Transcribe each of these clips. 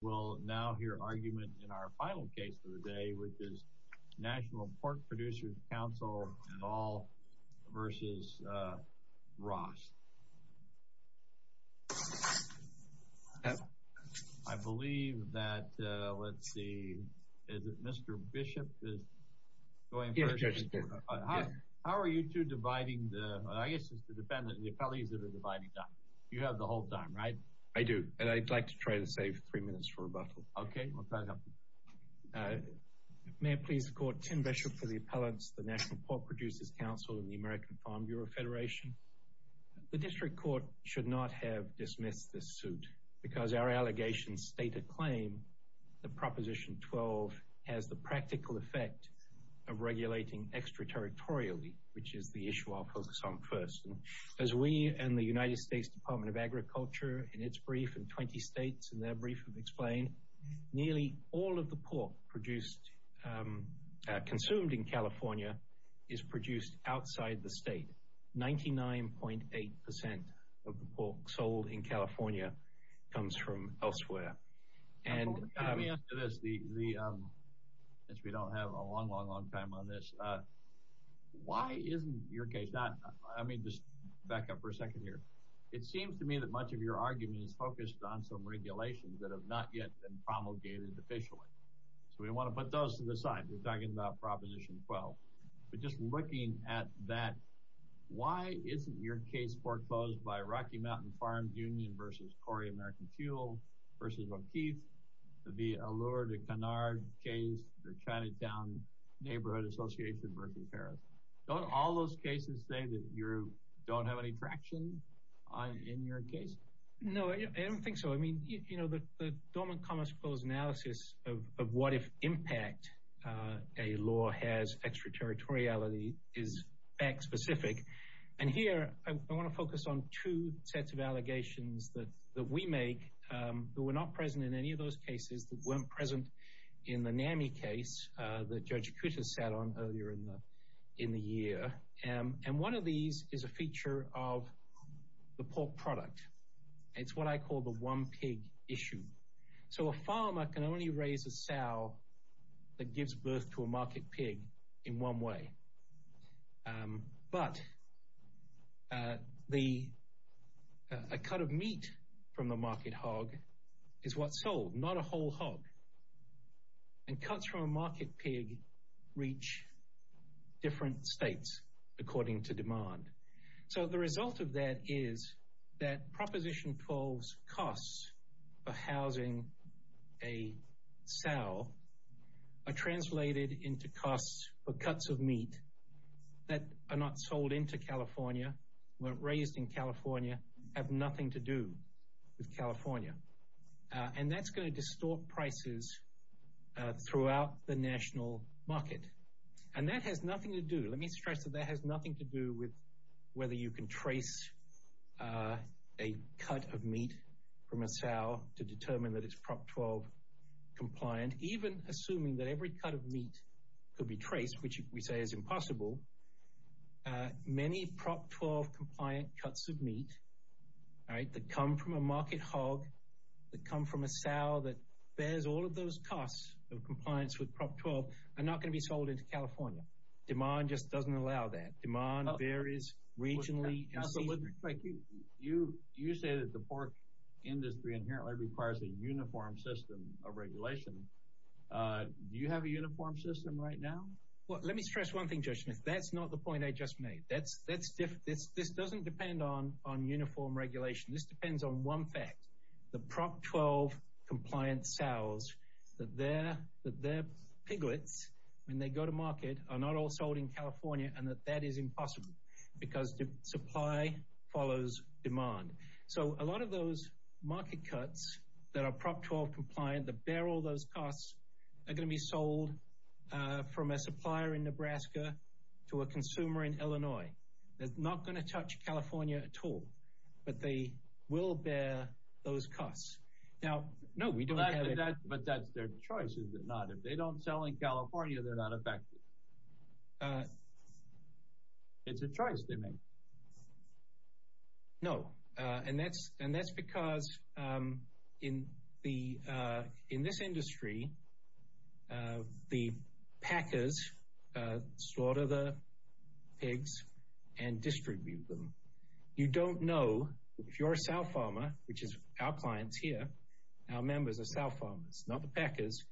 We'll now hear argument in our final case of the day, which is National Pork Producers Council v. Ross. I believe that, let's see, is it Mr. Bishop? How are you two dividing the, I guess it's the defendant, the appellees that are dividing time. You have the whole time, right? I do, and I'd like to try to save three minutes for rebuttal. Okay. May I please call Tim Bishop for the appellants, the National Pork Producers Council and the American Farm Bureau Federation. The district court should not have dismissed this suit because our allegations state a claim that Proposition 12 has the practical effect of regulating extraterritorially, which is the issue I'll focus on first. As we and the United States Department of Agriculture in its brief in 20 states in their brief have explained, nearly all of the pork produced, consumed in California is produced outside the state. 99.8% of the pork sold in California comes from elsewhere. Let me ask you this, since we don't have a long, long, long time on this. Why isn't your case, I mean just back up for a second here. It seems to me that much of your argument is focused on some regulations that have not yet been promulgated officially. So we want to put those to the side. We're talking about Proposition 12. But just looking at that, why isn't your case foreclosed by Rocky Mountain Farms Union versus Cory American Fuel versus O'Keeffe, the Allure de Canard case, the Chinatown Neighborhood Association versus Harris? Don't all those cases say that you don't have any traction? In your case? No, I don't think so. I mean, you know, the dormant commerce clause analysis of what if impact a law has extraterritoriality is fact specific. And here I want to focus on two sets of allegations that we make that were not present in any of those cases that weren't present in the NAMI case that Judge Kuta sat on earlier in the year. And one of these is a feature of the pork product. It's what I call the one pig issue. So a farmer can only raise a sow that gives birth to a market pig in one way. But a cut of meat from the market hog is what's sold, not a whole hog. And cuts from a market pig reach different states. According to demand. So the result of that is that Proposition 12's costs for housing a sow are translated into costs for cuts of meat that are not sold into California, weren't raised in California, have nothing to do with California. And that's going to distort prices throughout the national market. And that has nothing to do. Let me stress that that has nothing to do with whether you can trace a cut of meat from a sow to determine that it's Prop 12 compliant, even assuming that every cut of meat could be traced, which we say is impossible. Many Prop 12 compliant cuts of meat that come from a market hog, that come from a sow that bears all of those costs of compliance with Prop 12 are not going to be sold into California. Demand just doesn't allow that. Demand varies regionally. You say that the pork industry inherently requires a uniform system of regulation. Do you have a uniform system right now? Well, let me stress one thing, Judge Smith. That's not the point I just made. This doesn't depend on uniform regulation. This depends on one fact. The Prop 12 compliant sows, that they're piglets, when they go to market, are not all sold in California and that that is impossible because the supply follows demand. So a lot of those market cuts that are Prop 12 compliant, that bear all those costs, are going to be sold from a supplier in Nebraska to a consumer in Illinois. They're not going to touch California at all, but they will bear those costs. Now, no, we don't have it. But that's their choice, is it not? If they don't sell in California, they're not affected. It's a choice they make. No, and that's because in this industry, the packers slaughter the pigs and distribute them. You don't know if your sow farmer, which is our clients here, our members are sow farmers, not the packers.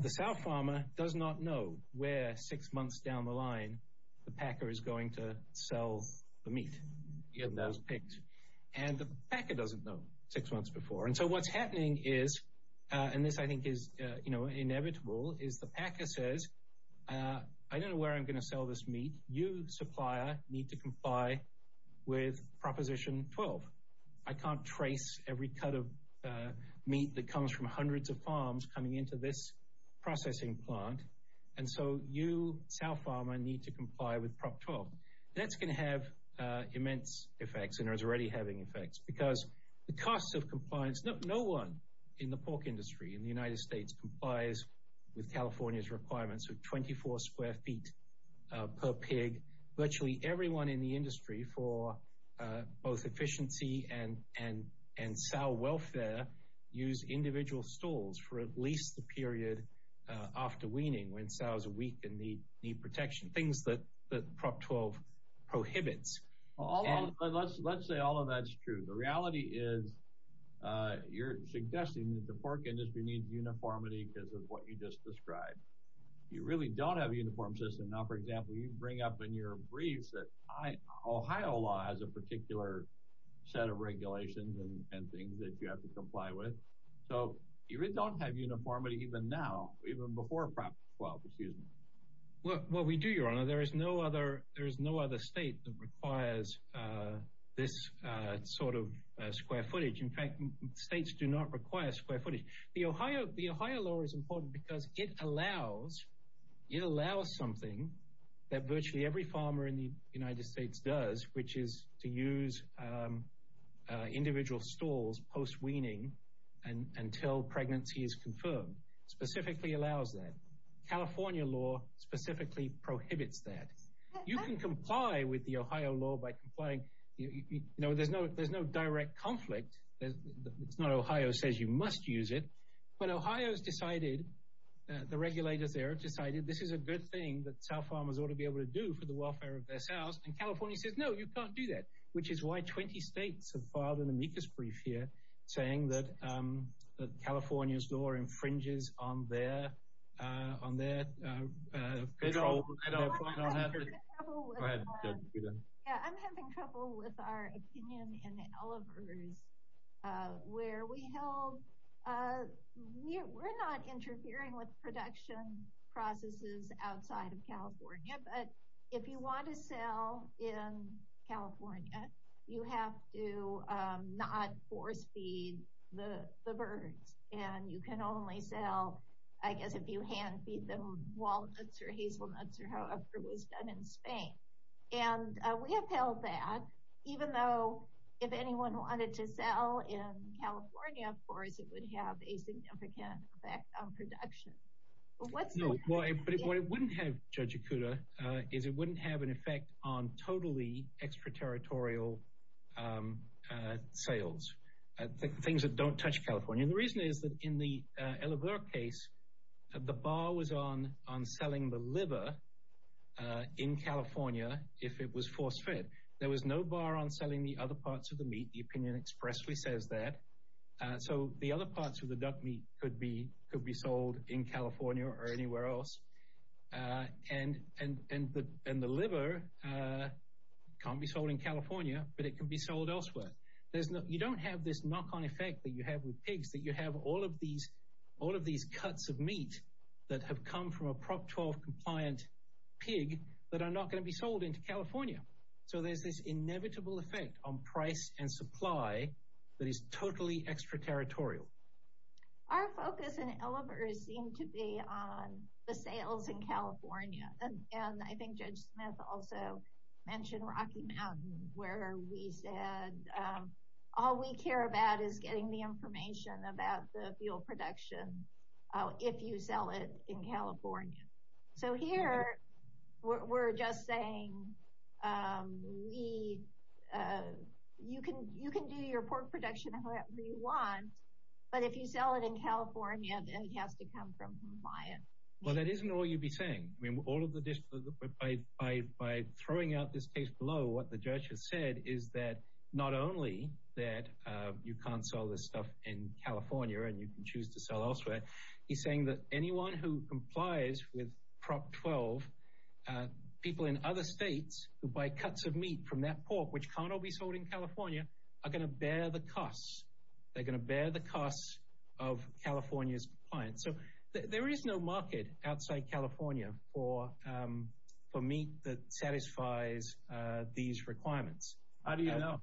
The sow farmer does not know where, six months down the line, the packer is going to sell the meat in those pigs. And the packer doesn't know six months before. And so what's happening is, and this I think is inevitable, is the packer says, I don't know where I'm going to sell this meat. You, supplier, need to comply with Proposition 12. I can't trace every cut of meat that comes from hundreds of farms coming into this processing plant. And so you, sow farmer, need to comply with Prop 12. That's going to have immense effects and is already having effects because the costs of compliance, no one in the pork industry in the United States complies with California's requirements of 24 square feet per pig. Virtually everyone in the industry for both efficiency and sow welfare use individual stalls for at least the period after weaning when sows are weak and need protection. Things that Prop 12 prohibits. Let's say all of that's true. The reality is you're suggesting that the pork industry needs uniformity because of what you just described. You really don't have a uniform system. Now, for example, you bring up in your briefs that Ohio law has a particular set of regulations and things that you have to comply with. So you really don't have uniformity even now, even before Prop 12, excuse me. Well, we do, Your Honor. There is no other state that requires this sort of square footage. In fact, states do not require square footage. The Ohio law is important because it allows something that virtually every farmer in the United States does, which is to use individual stalls post weaning until pregnancy is confirmed. Specifically allows that. California law specifically prohibits that. You can comply with the Ohio law by complying. You know, there's no direct conflict. It's not Ohio says you must use it. But Ohio's decided, the regulators there have decided, this is a good thing that sow farmers ought to be able to do for the welfare of their sows. And California says, no, you can't do that. Which is why 20 states have filed an amicus brief here saying that California's law infringes on their control. I'm having trouble with our opinion in Oliver's where we held, we're not interfering with production processes outside of California. But if you want to sell in California, you have to not force feed the birds. And you can only sell, I guess, if you hand feed them walnuts or hazelnuts or however it was done in Spain. And we have held that even though if anyone wanted to sell in California, no, but what it wouldn't have, Judge Okuda, is it wouldn't have an effect on totally extraterritorial sales. Things that don't touch California. The reason is that in the Oliver case, the bar was on selling the liver in California if it was force fed. There was no bar on selling the other parts of the meat. The opinion expressly says that. So the other parts of the duck meat could be sold in California or anywhere else. And the liver can't be sold in California, but it can be sold elsewhere. You don't have this knock-on effect that you have with pigs, that you have all of these cuts of meat that have come from a Prop 12 compliant pig that are not going to be sold into California. So there's this inevitable effect on price and supply that is totally extraterritorial. Our focus in Oliver seemed to be on the sales in California. And I think Judge Smith also mentioned Rocky Mountain, where we said all we care about is getting the information about the fuel production if you sell it in California. So here we're just saying you can do your pork production however you want, but if you sell it in California, then it has to come from compliant. Well, that isn't all you'd be saying. By throwing out this case below, what the judge has said is that not only that you can't sell this stuff in California and you can choose to sell elsewhere, he's saying that anyone who complies with Prop 12, people in other states who buy cuts of meat from that pork, which can't all be sold in California, are going to bear the costs. They're going to bear the costs of California's compliance. So there is no market outside California for meat that satisfies these requirements. How do you know?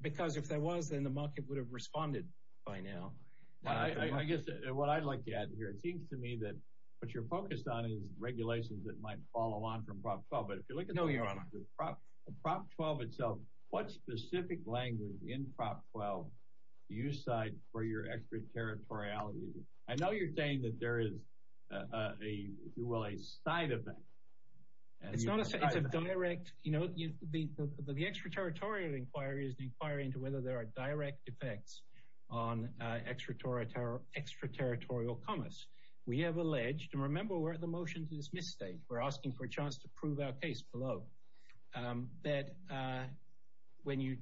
Because if there was, then the market would have responded by now. I guess what I'd like to add here, it seems to me that what you're focused on is regulations that might follow on from Prop 12. But if you look at the Prop 12 itself, what specific language in Prop 12 do you cite for your extraterritoriality? I know you're saying that there is a, if you will, a side effect. It's not a side effect, it's a direct, you know, the extraterritorial inquiry into whether there are direct effects on extraterritorial commerce. We have alleged, and remember we're at the motion to dismiss stage, we're asking for a chance to prove our case below, that when you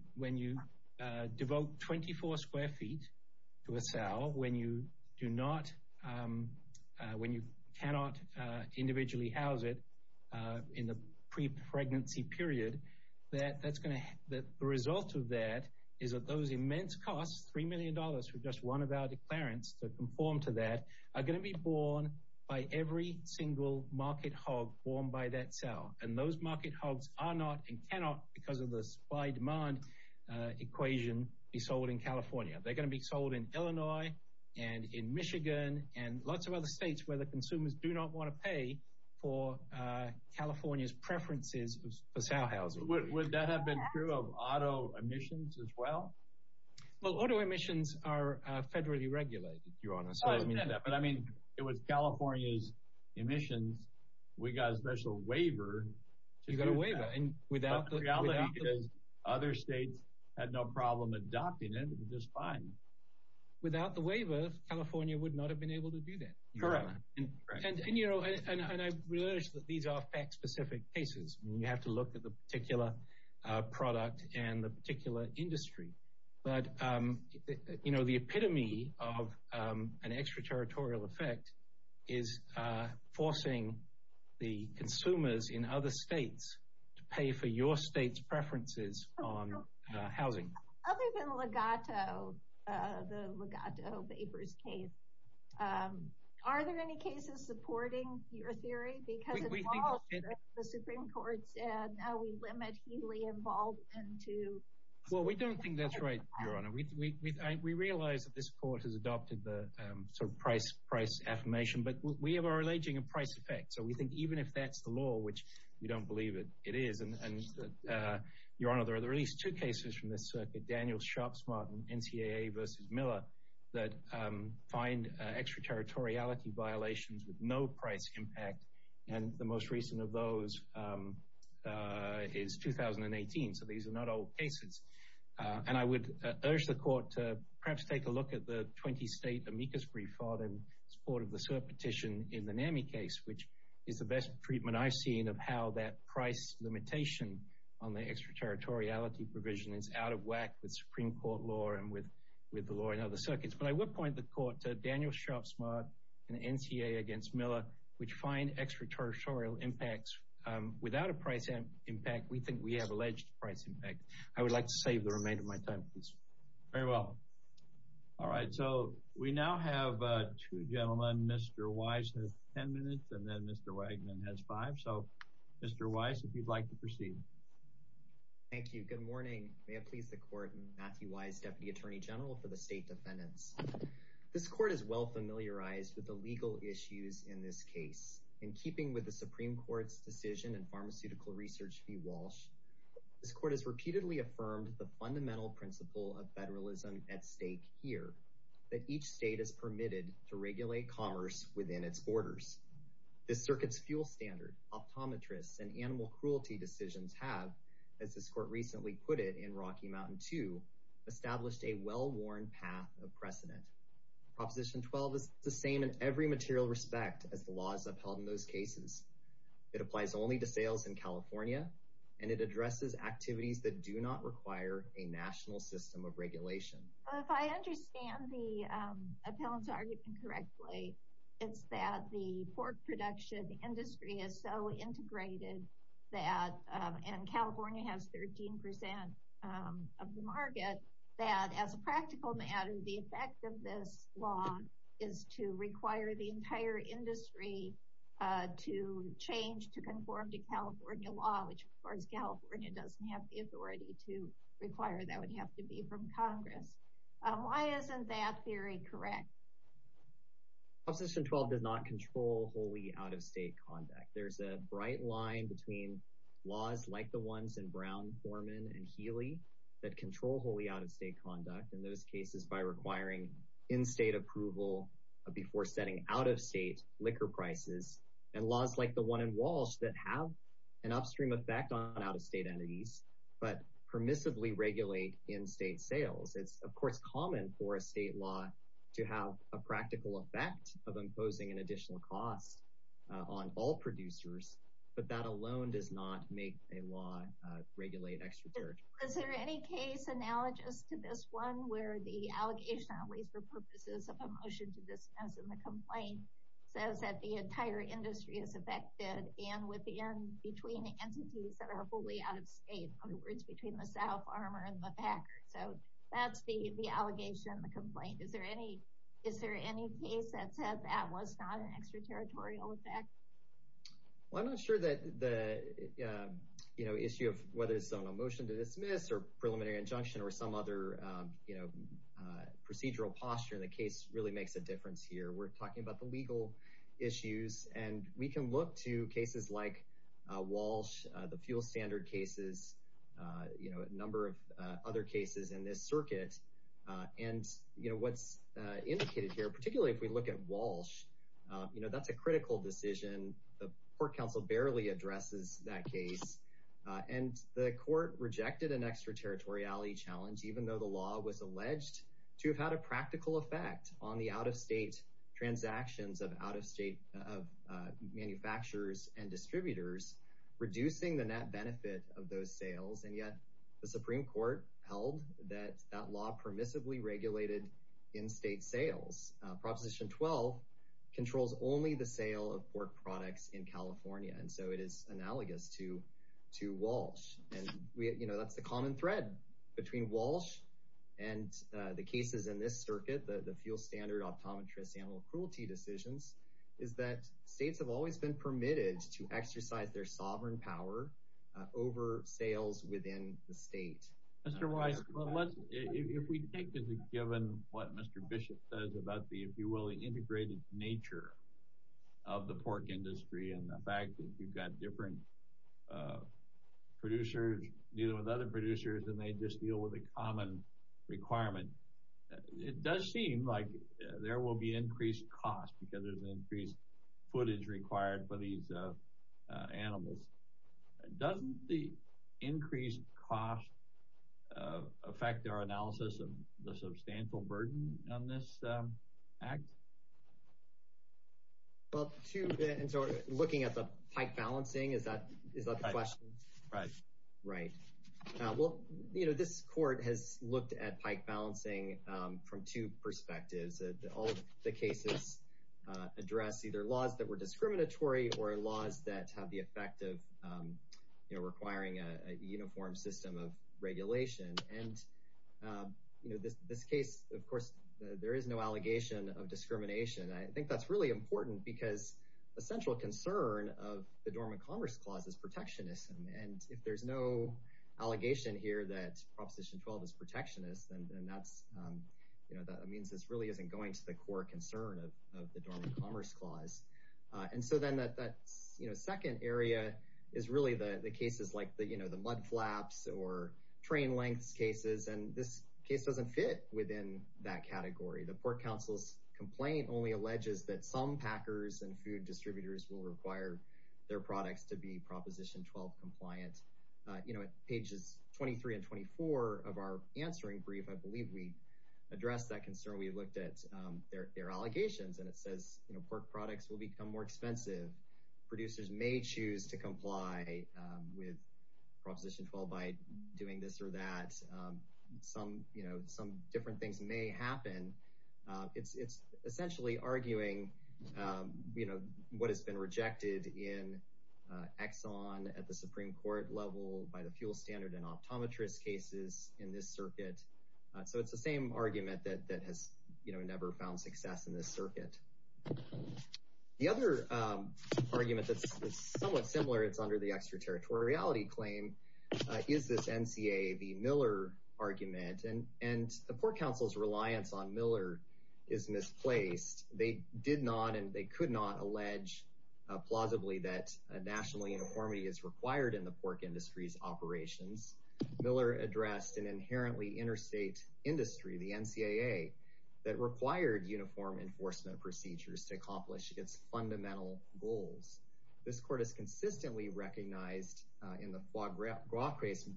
devote 24 square feet to a cell, when you do not, when you cannot individually house it in the pre-pregnancy period, that the result of that is that those immense costs, $3 million for just one of our declarants to conform to that, are going to be borne by every single market hog borne by that cell. And those market hogs are not and cannot, because of the supply-demand equation, be sold in California. They're going to be sold in Illinois and in Michigan and lots of other states where the consumers do not want to pay for California's preferences for cell housing. Would that have been true of auto emissions as well? Well, auto emissions are federally regulated, Your Honor. I understand that, but I mean, it was California's emissions. We got a special waiver to do that. You got a waiver. But the reality is other states had no problem adopting it, it was just fine. Without the waiver, California would not have been able to do that. Correct, and I realize that these are fact-specific cases. You have to look at the particular product and the particular industry. But the epitome of an extraterritorial effect is forcing the consumers in other states to pay for your state's preferences on housing. Other than Legato, the Legato papers case, are there any cases supporting your theory? Because it follows that the Supreme Court said, now we limit heely involvement to... Well, we don't think that's right, Your Honor. We realize that this court has adopted the sort of price affirmation, but we are alleging a price effect. So we think even if that's the law, which we don't believe it is, and Your Honor, there are at least two cases from this circuit, Daniel Sharpsmart and NCAA v. Miller, that find extraterritoriality violations with no price impact. And the most recent of those is 2018. So these are not old cases. And I would urge the court to perhaps take a look at the 20-state amicus brief order in support of the petition in the NAMI case, which is the best treatment I've seen of how that price limitation on the extraterritoriality provision is out of whack with Supreme Court law and with the law in other circuits. But I would point the court to Daniel Sharpsmart and NCAA v. Miller, which find extraterritorial impacts without a price impact. We think we have alleged price impact. I would like to save the remainder of my time, please. Very well. All right. So we now have two gentlemen. Mr. Wise has 10 minutes, and then Mr. Wegman has five. So Mr. Wise, if you'd like to proceed. Thank you. Good morning. May it please the court, Matthew Wise, Deputy Attorney General for the State Defendants. This court is well familiarized with the legal issues in this case. In keeping with the Supreme Court's decision in pharmaceutical research v. Walsh, this court has repeatedly affirmed the fundamental principle of federalism at stake here. That each state is permitted to regulate commerce within its borders. This circuit's fuel standard, optometrists, and animal cruelty decisions have, as this court recently put it in Rocky Mountain II, established a well-worn path of precedent. Proposition 12 is the same in every material respect as the laws upheld in those cases. It applies only to sales in California, and it addresses activities that do not require a national system of regulation. If I understand the appellant's argument correctly, it's that the pork production industry is so integrated that, and California has 13 percent of the market, that as a practical matter, the effect of this law is to require the entire industry to change to conform to California law, which, of course, California doesn't have the authority to require. That would have to be from Congress. Why isn't that theory correct? Proposition 12 does not control wholly out-of-state conduct. There's a bright line between laws like the ones in Brown, Foreman, and Healy that control wholly out-of-state conduct, in those cases by requiring in-state approval before setting out-of-state liquor prices, and laws like the one in Walsh that have an upstream effect on out-of-state entities, but permissively regulate in-state sales. It's, of course, common for a state law to have a practical effect of imposing an additional cost on all producers, but that alone does not make a law regulate extra charge. Is there any case analogous to this one, where the allegation, at least for purposes of a motion to dismiss in the complaint, says that the entire industry is affected, and within, between entities that are fully out-of-state, in other words, between the South, Armour, and the Packers. So that's the allegation in the complaint. Is there any case that said that was not an extraterritorial effect? Well, I'm not sure that the issue of whether it's on a motion to dismiss, or preliminary injunction, or some other procedural posture in the case really makes a difference here. We're talking about the legal issues, and we can look to cases like Walsh, the fuel standard cases, you know, a number of other cases in this circuit, and, you know, what's indicated here, particularly if we look at Walsh, you know, that's a critical decision. The court counsel barely addresses that case, and the court rejected an extraterritoriality challenge, even though the law was alleged to have had a practical effect on the out-of-state transactions of out-of-state manufacturers and distributors, reducing the net benefit of those sales, and yet the Supreme Court held that that law permissively regulated in-state sales. Proposition 12 controls only the sale of pork products in California, and so it is analogous to Walsh, and, you know, that's the common thread between Walsh and the cases in this circuit, the fuel standard, optometrists, animal cruelty decisions, is that states have always been permitted to exercise their sovereign power over sales within the state. Mr. Weiss, if we take as a given what Mr. Bishop says about the, if you will, the integrated nature of the pork industry and the fact that you've got different producers, deal with other producers, and they just deal with a common requirement, it does seem like there will be increased cost because there's increased footage required for these animals. Doesn't the increased cost affect our analysis of the substantial burden on this act? Well, to, and so looking at the pike balancing, is that the question? Right. Right. Well, you know, this court has looked at pike balancing from two perspectives. All of the cases address either laws that were discriminatory or laws that have the effect of, you know, requiring a uniform system of regulation, and, you know, this case, of course, there is no allegation of discrimination. I think that's really important because a central concern of the Dormant Commerce Clause is protectionism, and if there's no allegation here that Proposition 12 is protectionist, then that's, you know, that means this really isn't going to the core concern of the Dormant Commerce Clause. And so then that, you know, second area is really the cases like the, you know, the mud flaps or train lengths cases, and this case doesn't fit within that category. The Pork Council's complaint only alleges that some packers and food distributors will require their products to be Proposition 12 compliant. You know, at pages 23 and 24 of our answering brief, I believe we addressed that concern. We looked at their allegations, and it says, you know, pork products will become more expensive. Producers may choose to comply with Proposition 12 by doing this or that. Some, you know, some different things may happen. It's essentially arguing, you know, what has been rejected in Exxon at the Supreme Court level by the fuel standard and optometrist cases in this circuit. So it's the same argument that has, you know, never found success in this circuit. The other argument that's somewhat similar, it's under the extraterritoriality claim, is this NCAA v. Miller argument. And the Pork Council's reliance on Miller is misplaced. They did not and they could not allege plausibly that national uniformity is required in the pork industry's operations. Miller addressed an inherently interstate industry, the NCAA, that required uniform enforcement procedures to accomplish its fundamental goals. This Court has consistently recognized, in the Foie Gras case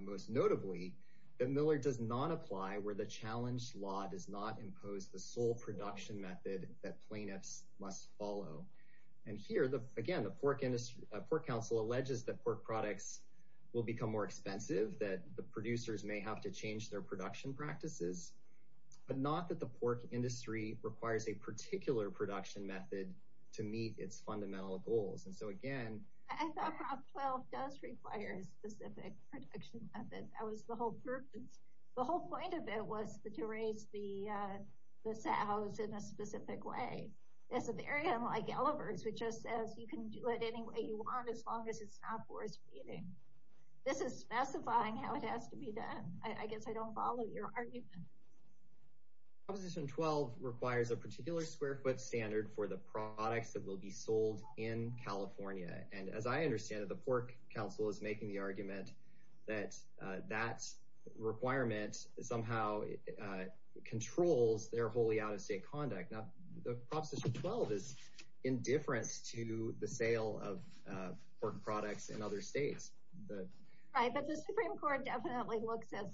most notably, that Miller does not apply where the challenged law does not impose the sole production method that plaintiffs must follow. And here, again, the Pork Council alleges that pork products will become more expensive, that the producers may have to change their production practices, but not that the pork industry requires a particular production method to meet its fundamental goals. And so, again, I thought Prop 12 does require a specific production method. That was the whole purpose. The whole point of it was to raise the sows in a specific way. It's a very unlike Elovers, which just says you can do it any way you want, as long as it's not forest feeding. This is specifying how it has to be done. I guess I don't follow your argument. Proposition 12 requires a particular square foot standard for the products that will be sold in California. And as I understand it, the Pork Council is making the argument that that requirement somehow controls their wholly out-of-state conduct. Now, Proposition 12 is indifferent to the sale of pork products in other states. Right, but the Supreme Court definitely looks at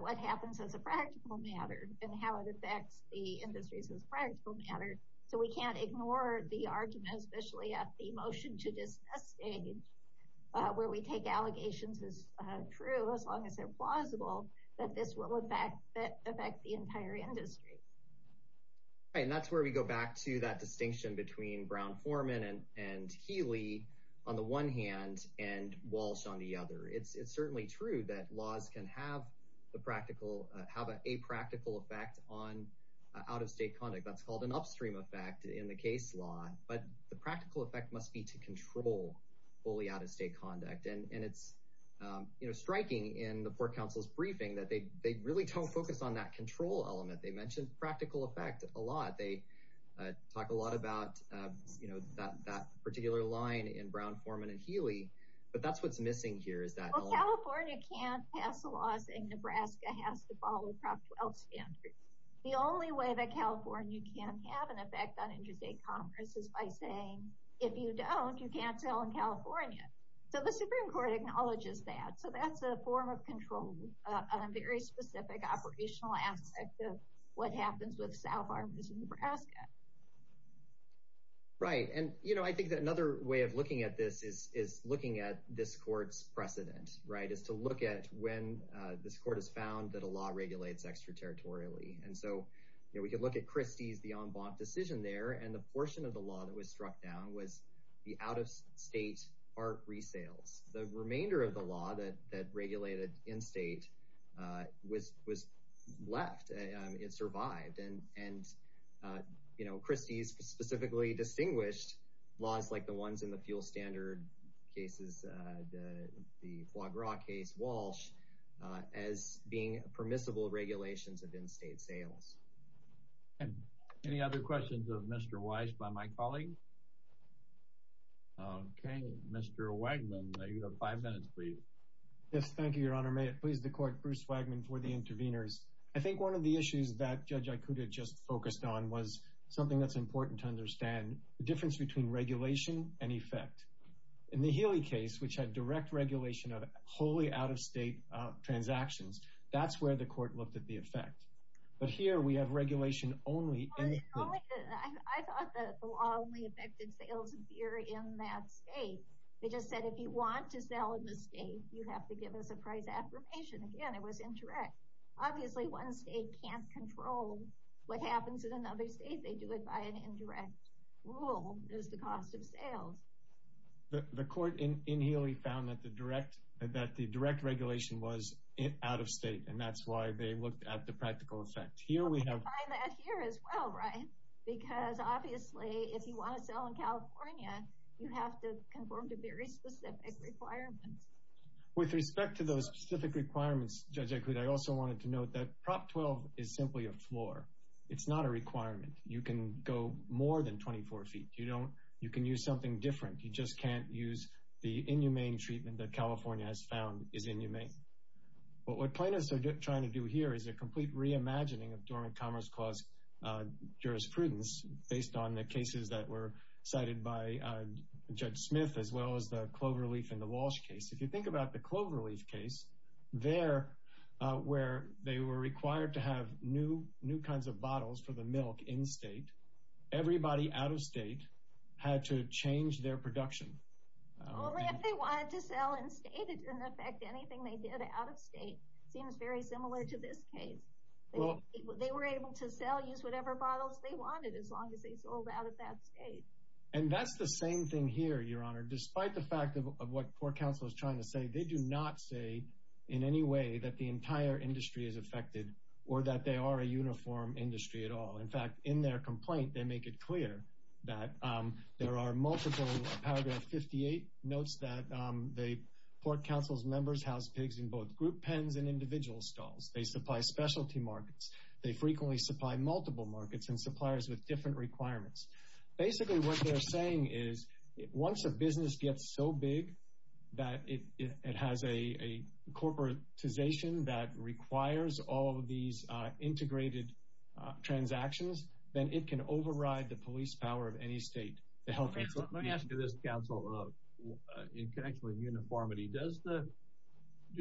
what happens as a practical matter and how it affects the industries as a practical matter. So we can't ignore the argument, especially at the motion to dismiss stage, where we take allegations as true, as long as they're plausible, that this will, in fact, affect the entire industry. Right, and that's where we go back to that distinction between Brown-Foreman and Healy on the one hand and Walsh on the other. It's certainly true that laws can have a practical effect on out-of-state conduct. That's called an upstream effect in the case law. But the practical effect must be to control wholly out-of-state conduct. And it's striking in the Pork Council's briefing that they really don't focus on that control element. They mention practical effect a lot. They talk a lot about that particular line in Brown-Foreman and Healy. But that's what's missing here. Well, California can't pass the laws, and Nebraska has to follow Prop 12 standards. The only way that California can have an effect on interstate commerce is by saying, if you don't, you can't sell in California. So the Supreme Court acknowledges that. So that's a form of control, a very specific operational aspect of what happens with South Harvest in Nebraska. Right. And I think that another way of looking at this is looking at this court's precedent, is to look at when this court has found that a law regulates extraterritorially. And so we could look at Christie's, the en banc decision there. And the portion of the law that was struck down was the out-of-state part resales. The remainder of the law that regulated in-state was left. It survived. And Christie's specifically distinguished laws like the ones in the fuel standard cases, the Foie Gras case, Walsh, as being permissible regulations of in-state sales. And any other questions of Mr. Weiss by my colleague? OK, Mr. Wagnon, you have five minutes, please. Yes, thank you, Your Honor. May it please the court, Bruce Wagnon for the interveners. I think one of the issues that Judge Ikuta just focused on was something that's important to understand, the difference between regulation and effect. In the Healy case, which had direct regulation of wholly out-of-state transactions, that's where the court looked at the effect. But here we have regulation only in the case. I thought that the law only affected sales here in that state. They just said, if you want to sell in the state, you have to give us a price affirmation. Again, it was indirect. Obviously, one state can't control what happens in another state. They do it by an indirect rule. It's the cost of sales. The court in Healy found that the direct regulation was out-of-state, and that's why they looked at the practical effect. Here we have... I find that here as well, right? Because obviously, if you want to sell in California, you have to conform to very specific requirements. With respect to those specific requirements, Judge Ikuda, I also wanted to note that Prop 12 is simply a floor. It's not a requirement. You can go more than 24 feet. You can use something different. You just can't use the inhumane treatment that California has found is inhumane. But what plaintiffs are trying to do here is a complete reimagining of dormant commerce clause jurisprudence, based on the cases that were cited by Judge Smith, as well as the Cloverleaf and the Walsh case. If you think about the Cloverleaf case, there, where they were required to have new kinds of bottles for the milk in-state, everybody out-of-state had to change their production. Only if they wanted to sell in-state, it didn't affect anything they did out-of-state. It seems very similar to this case. They were able to sell, use whatever bottles they wanted, as long as they sold out of that state. And that's the same thing here, Your Honor. Despite the fact of what court counsel is trying to say, they do not say in any way that the entire industry is affected, or that they are a uniform industry at all. In fact, in their complaint, they make it clear that there are multiple paragraph 58 notes that the court counsel's members house pigs in both group pens and individual stalls. They supply specialty markets. They frequently supply multiple markets and suppliers with different requirements. Basically, what they're saying is, once a business gets so big that it has a corporatization that requires all of these integrated transactions, then it can override the police power of any state. The health institution— Let me ask you this, counsel, in connection with uniformity. Do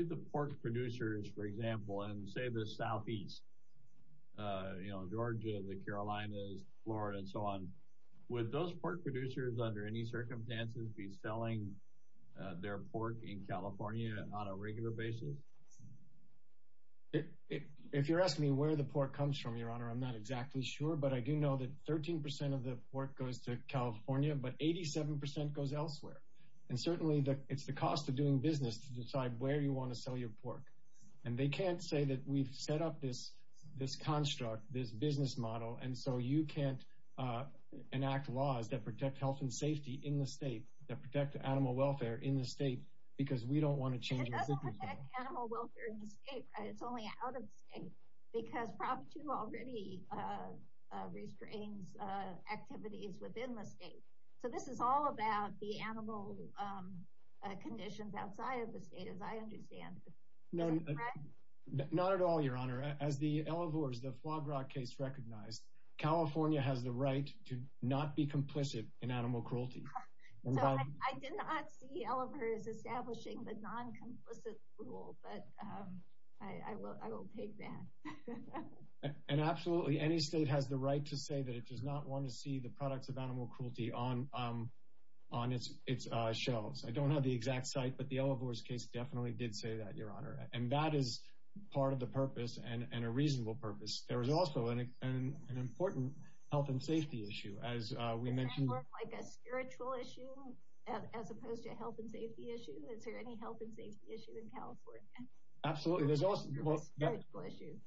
the pork producers, for example, in, say, the southeast, you know, Georgia, the Carolinas, Florida, and so on, would those pork producers, under any circumstances, be selling their pork in California on a regular basis? If you're asking me where the pork comes from, Your Honor, I'm not exactly sure. But I do know that 13% of the pork goes to California, but 87% goes elsewhere. And certainly, it's the cost of doing business to decide where you want to sell your pork. And they can't say that we've set up this construct, this business model, and so you can't enact laws that protect health and safety in the state, that protect animal welfare in the state, because we don't want to change— It doesn't protect animal welfare in the state, right? It's only out of state. Because Prop 2 already restrains activities within the state. So this is all about the animal conditions outside of the state, as I understand it. Not at all, Your Honor. As the Elevores, the Flog Rock case recognized, California has the right to not be complicit in animal cruelty. I did not see Elevores establishing the non-complicit rule, but I will take that. And absolutely, any state has the right to say that it does not want to see the products of animal cruelty on its shelves. I don't have the exact site, but the Elevores case definitely did say that, Your Honor. And that is part of the purpose, and a reasonable purpose. There is also an important health and safety issue, as we mentioned— Does that look like a spiritual issue, as opposed to a health and safety issue? Is there any health and safety issue in California? Absolutely.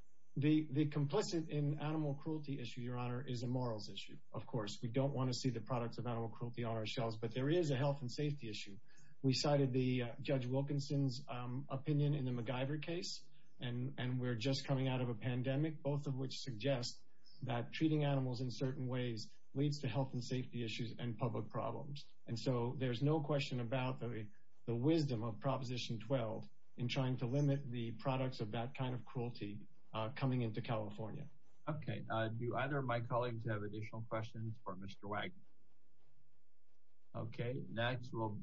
The complicit in animal cruelty issue, Your Honor, is a morals issue, of course. We don't want to see the products of animal cruelty on our shelves, but there is a health and safety issue. We cited Judge Wilkinson's opinion in the MacGyver case, and we're just coming out of a pandemic, both of which suggest that treating animals in certain ways leads to health and safety issues and public problems. And so there's no question about the wisdom of Proposition 12 in trying to limit the products of that kind of cruelty coming into California. Okay. Do either of my colleagues have additional questions for Mr. Wagner? Okay. Back to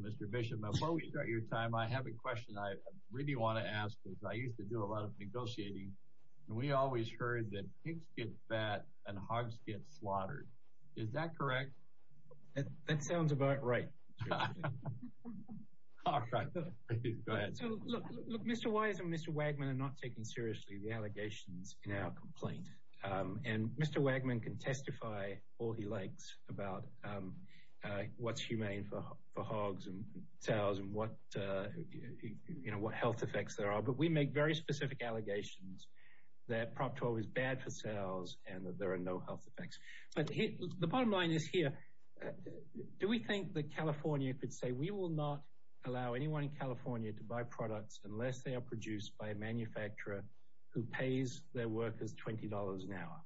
Mr. Bishop, before we start your time, I have a question I really want to ask, because I used to do a lot of negotiating, and we always heard that pigs get fat and hogs get slaughtered. Is that correct? That sounds about right. All right. Look, Mr. Wise and Mr. Wagner are not taking seriously the allegations in our complaint. And Mr. Wagner can testify all he likes about what's humane for hogs and sows and what health effects there are. But we make very specific allegations that Prop 12 is bad for sows and that there are no health effects. But the bottom line is here, do we think that California could say, we will not allow anyone in California to buy products unless they are produced by a manufacturer who pays their workers $20 an hour?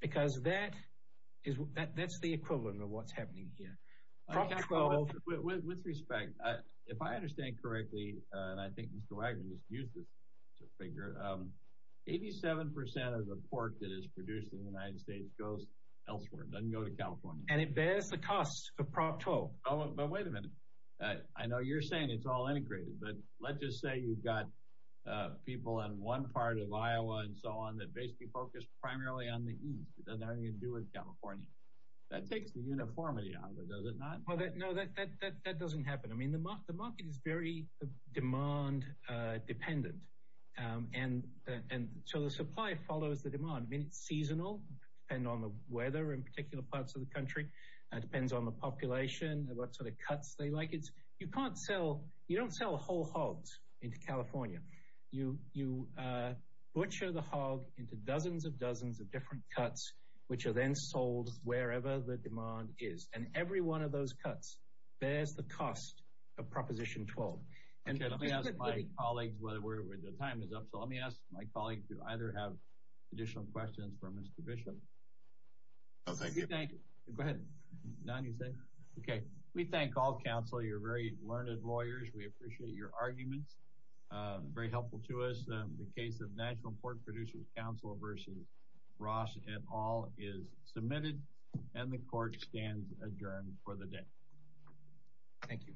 Because that's the equivalent of what's happening here. With respect, if I understand correctly, and I think Mr. Wagner just used this as a figure, 87% of the pork that is produced in the United States goes elsewhere. It doesn't go to California. And it bears the cost of Prop 12. But wait a minute. I know you're saying it's all integrated, but let's just say you've got people in one part of Iowa and so on that basically focus primarily on the East. It doesn't have anything to do with California. That takes the uniformity out of it, does it not? Well, no, that doesn't happen. I mean, the market is very demand dependent. And so the supply follows the demand. I mean, it's seasonal, depending on the weather in particular parts of the country. It depends on the population and what sort of cuts they like. You can't sell, you don't sell whole hogs into California. You butcher the hog into dozens of dozens of different cuts, which are then sold wherever the demand is. And every one of those cuts bears the cost of Proposition 12. And let me ask my colleagues, the time is up, so let me ask my colleague to either have additional questions for Mr. Bishop. No, thank you. You thank, go ahead. None, you say? Okay, we thank all counsel. You're very learned lawyers. We appreciate your arguments. Very helpful to us. The case of National Pork Producers Council versus Ross et al is submitted. And the court stands adjourned for the day. Thank you.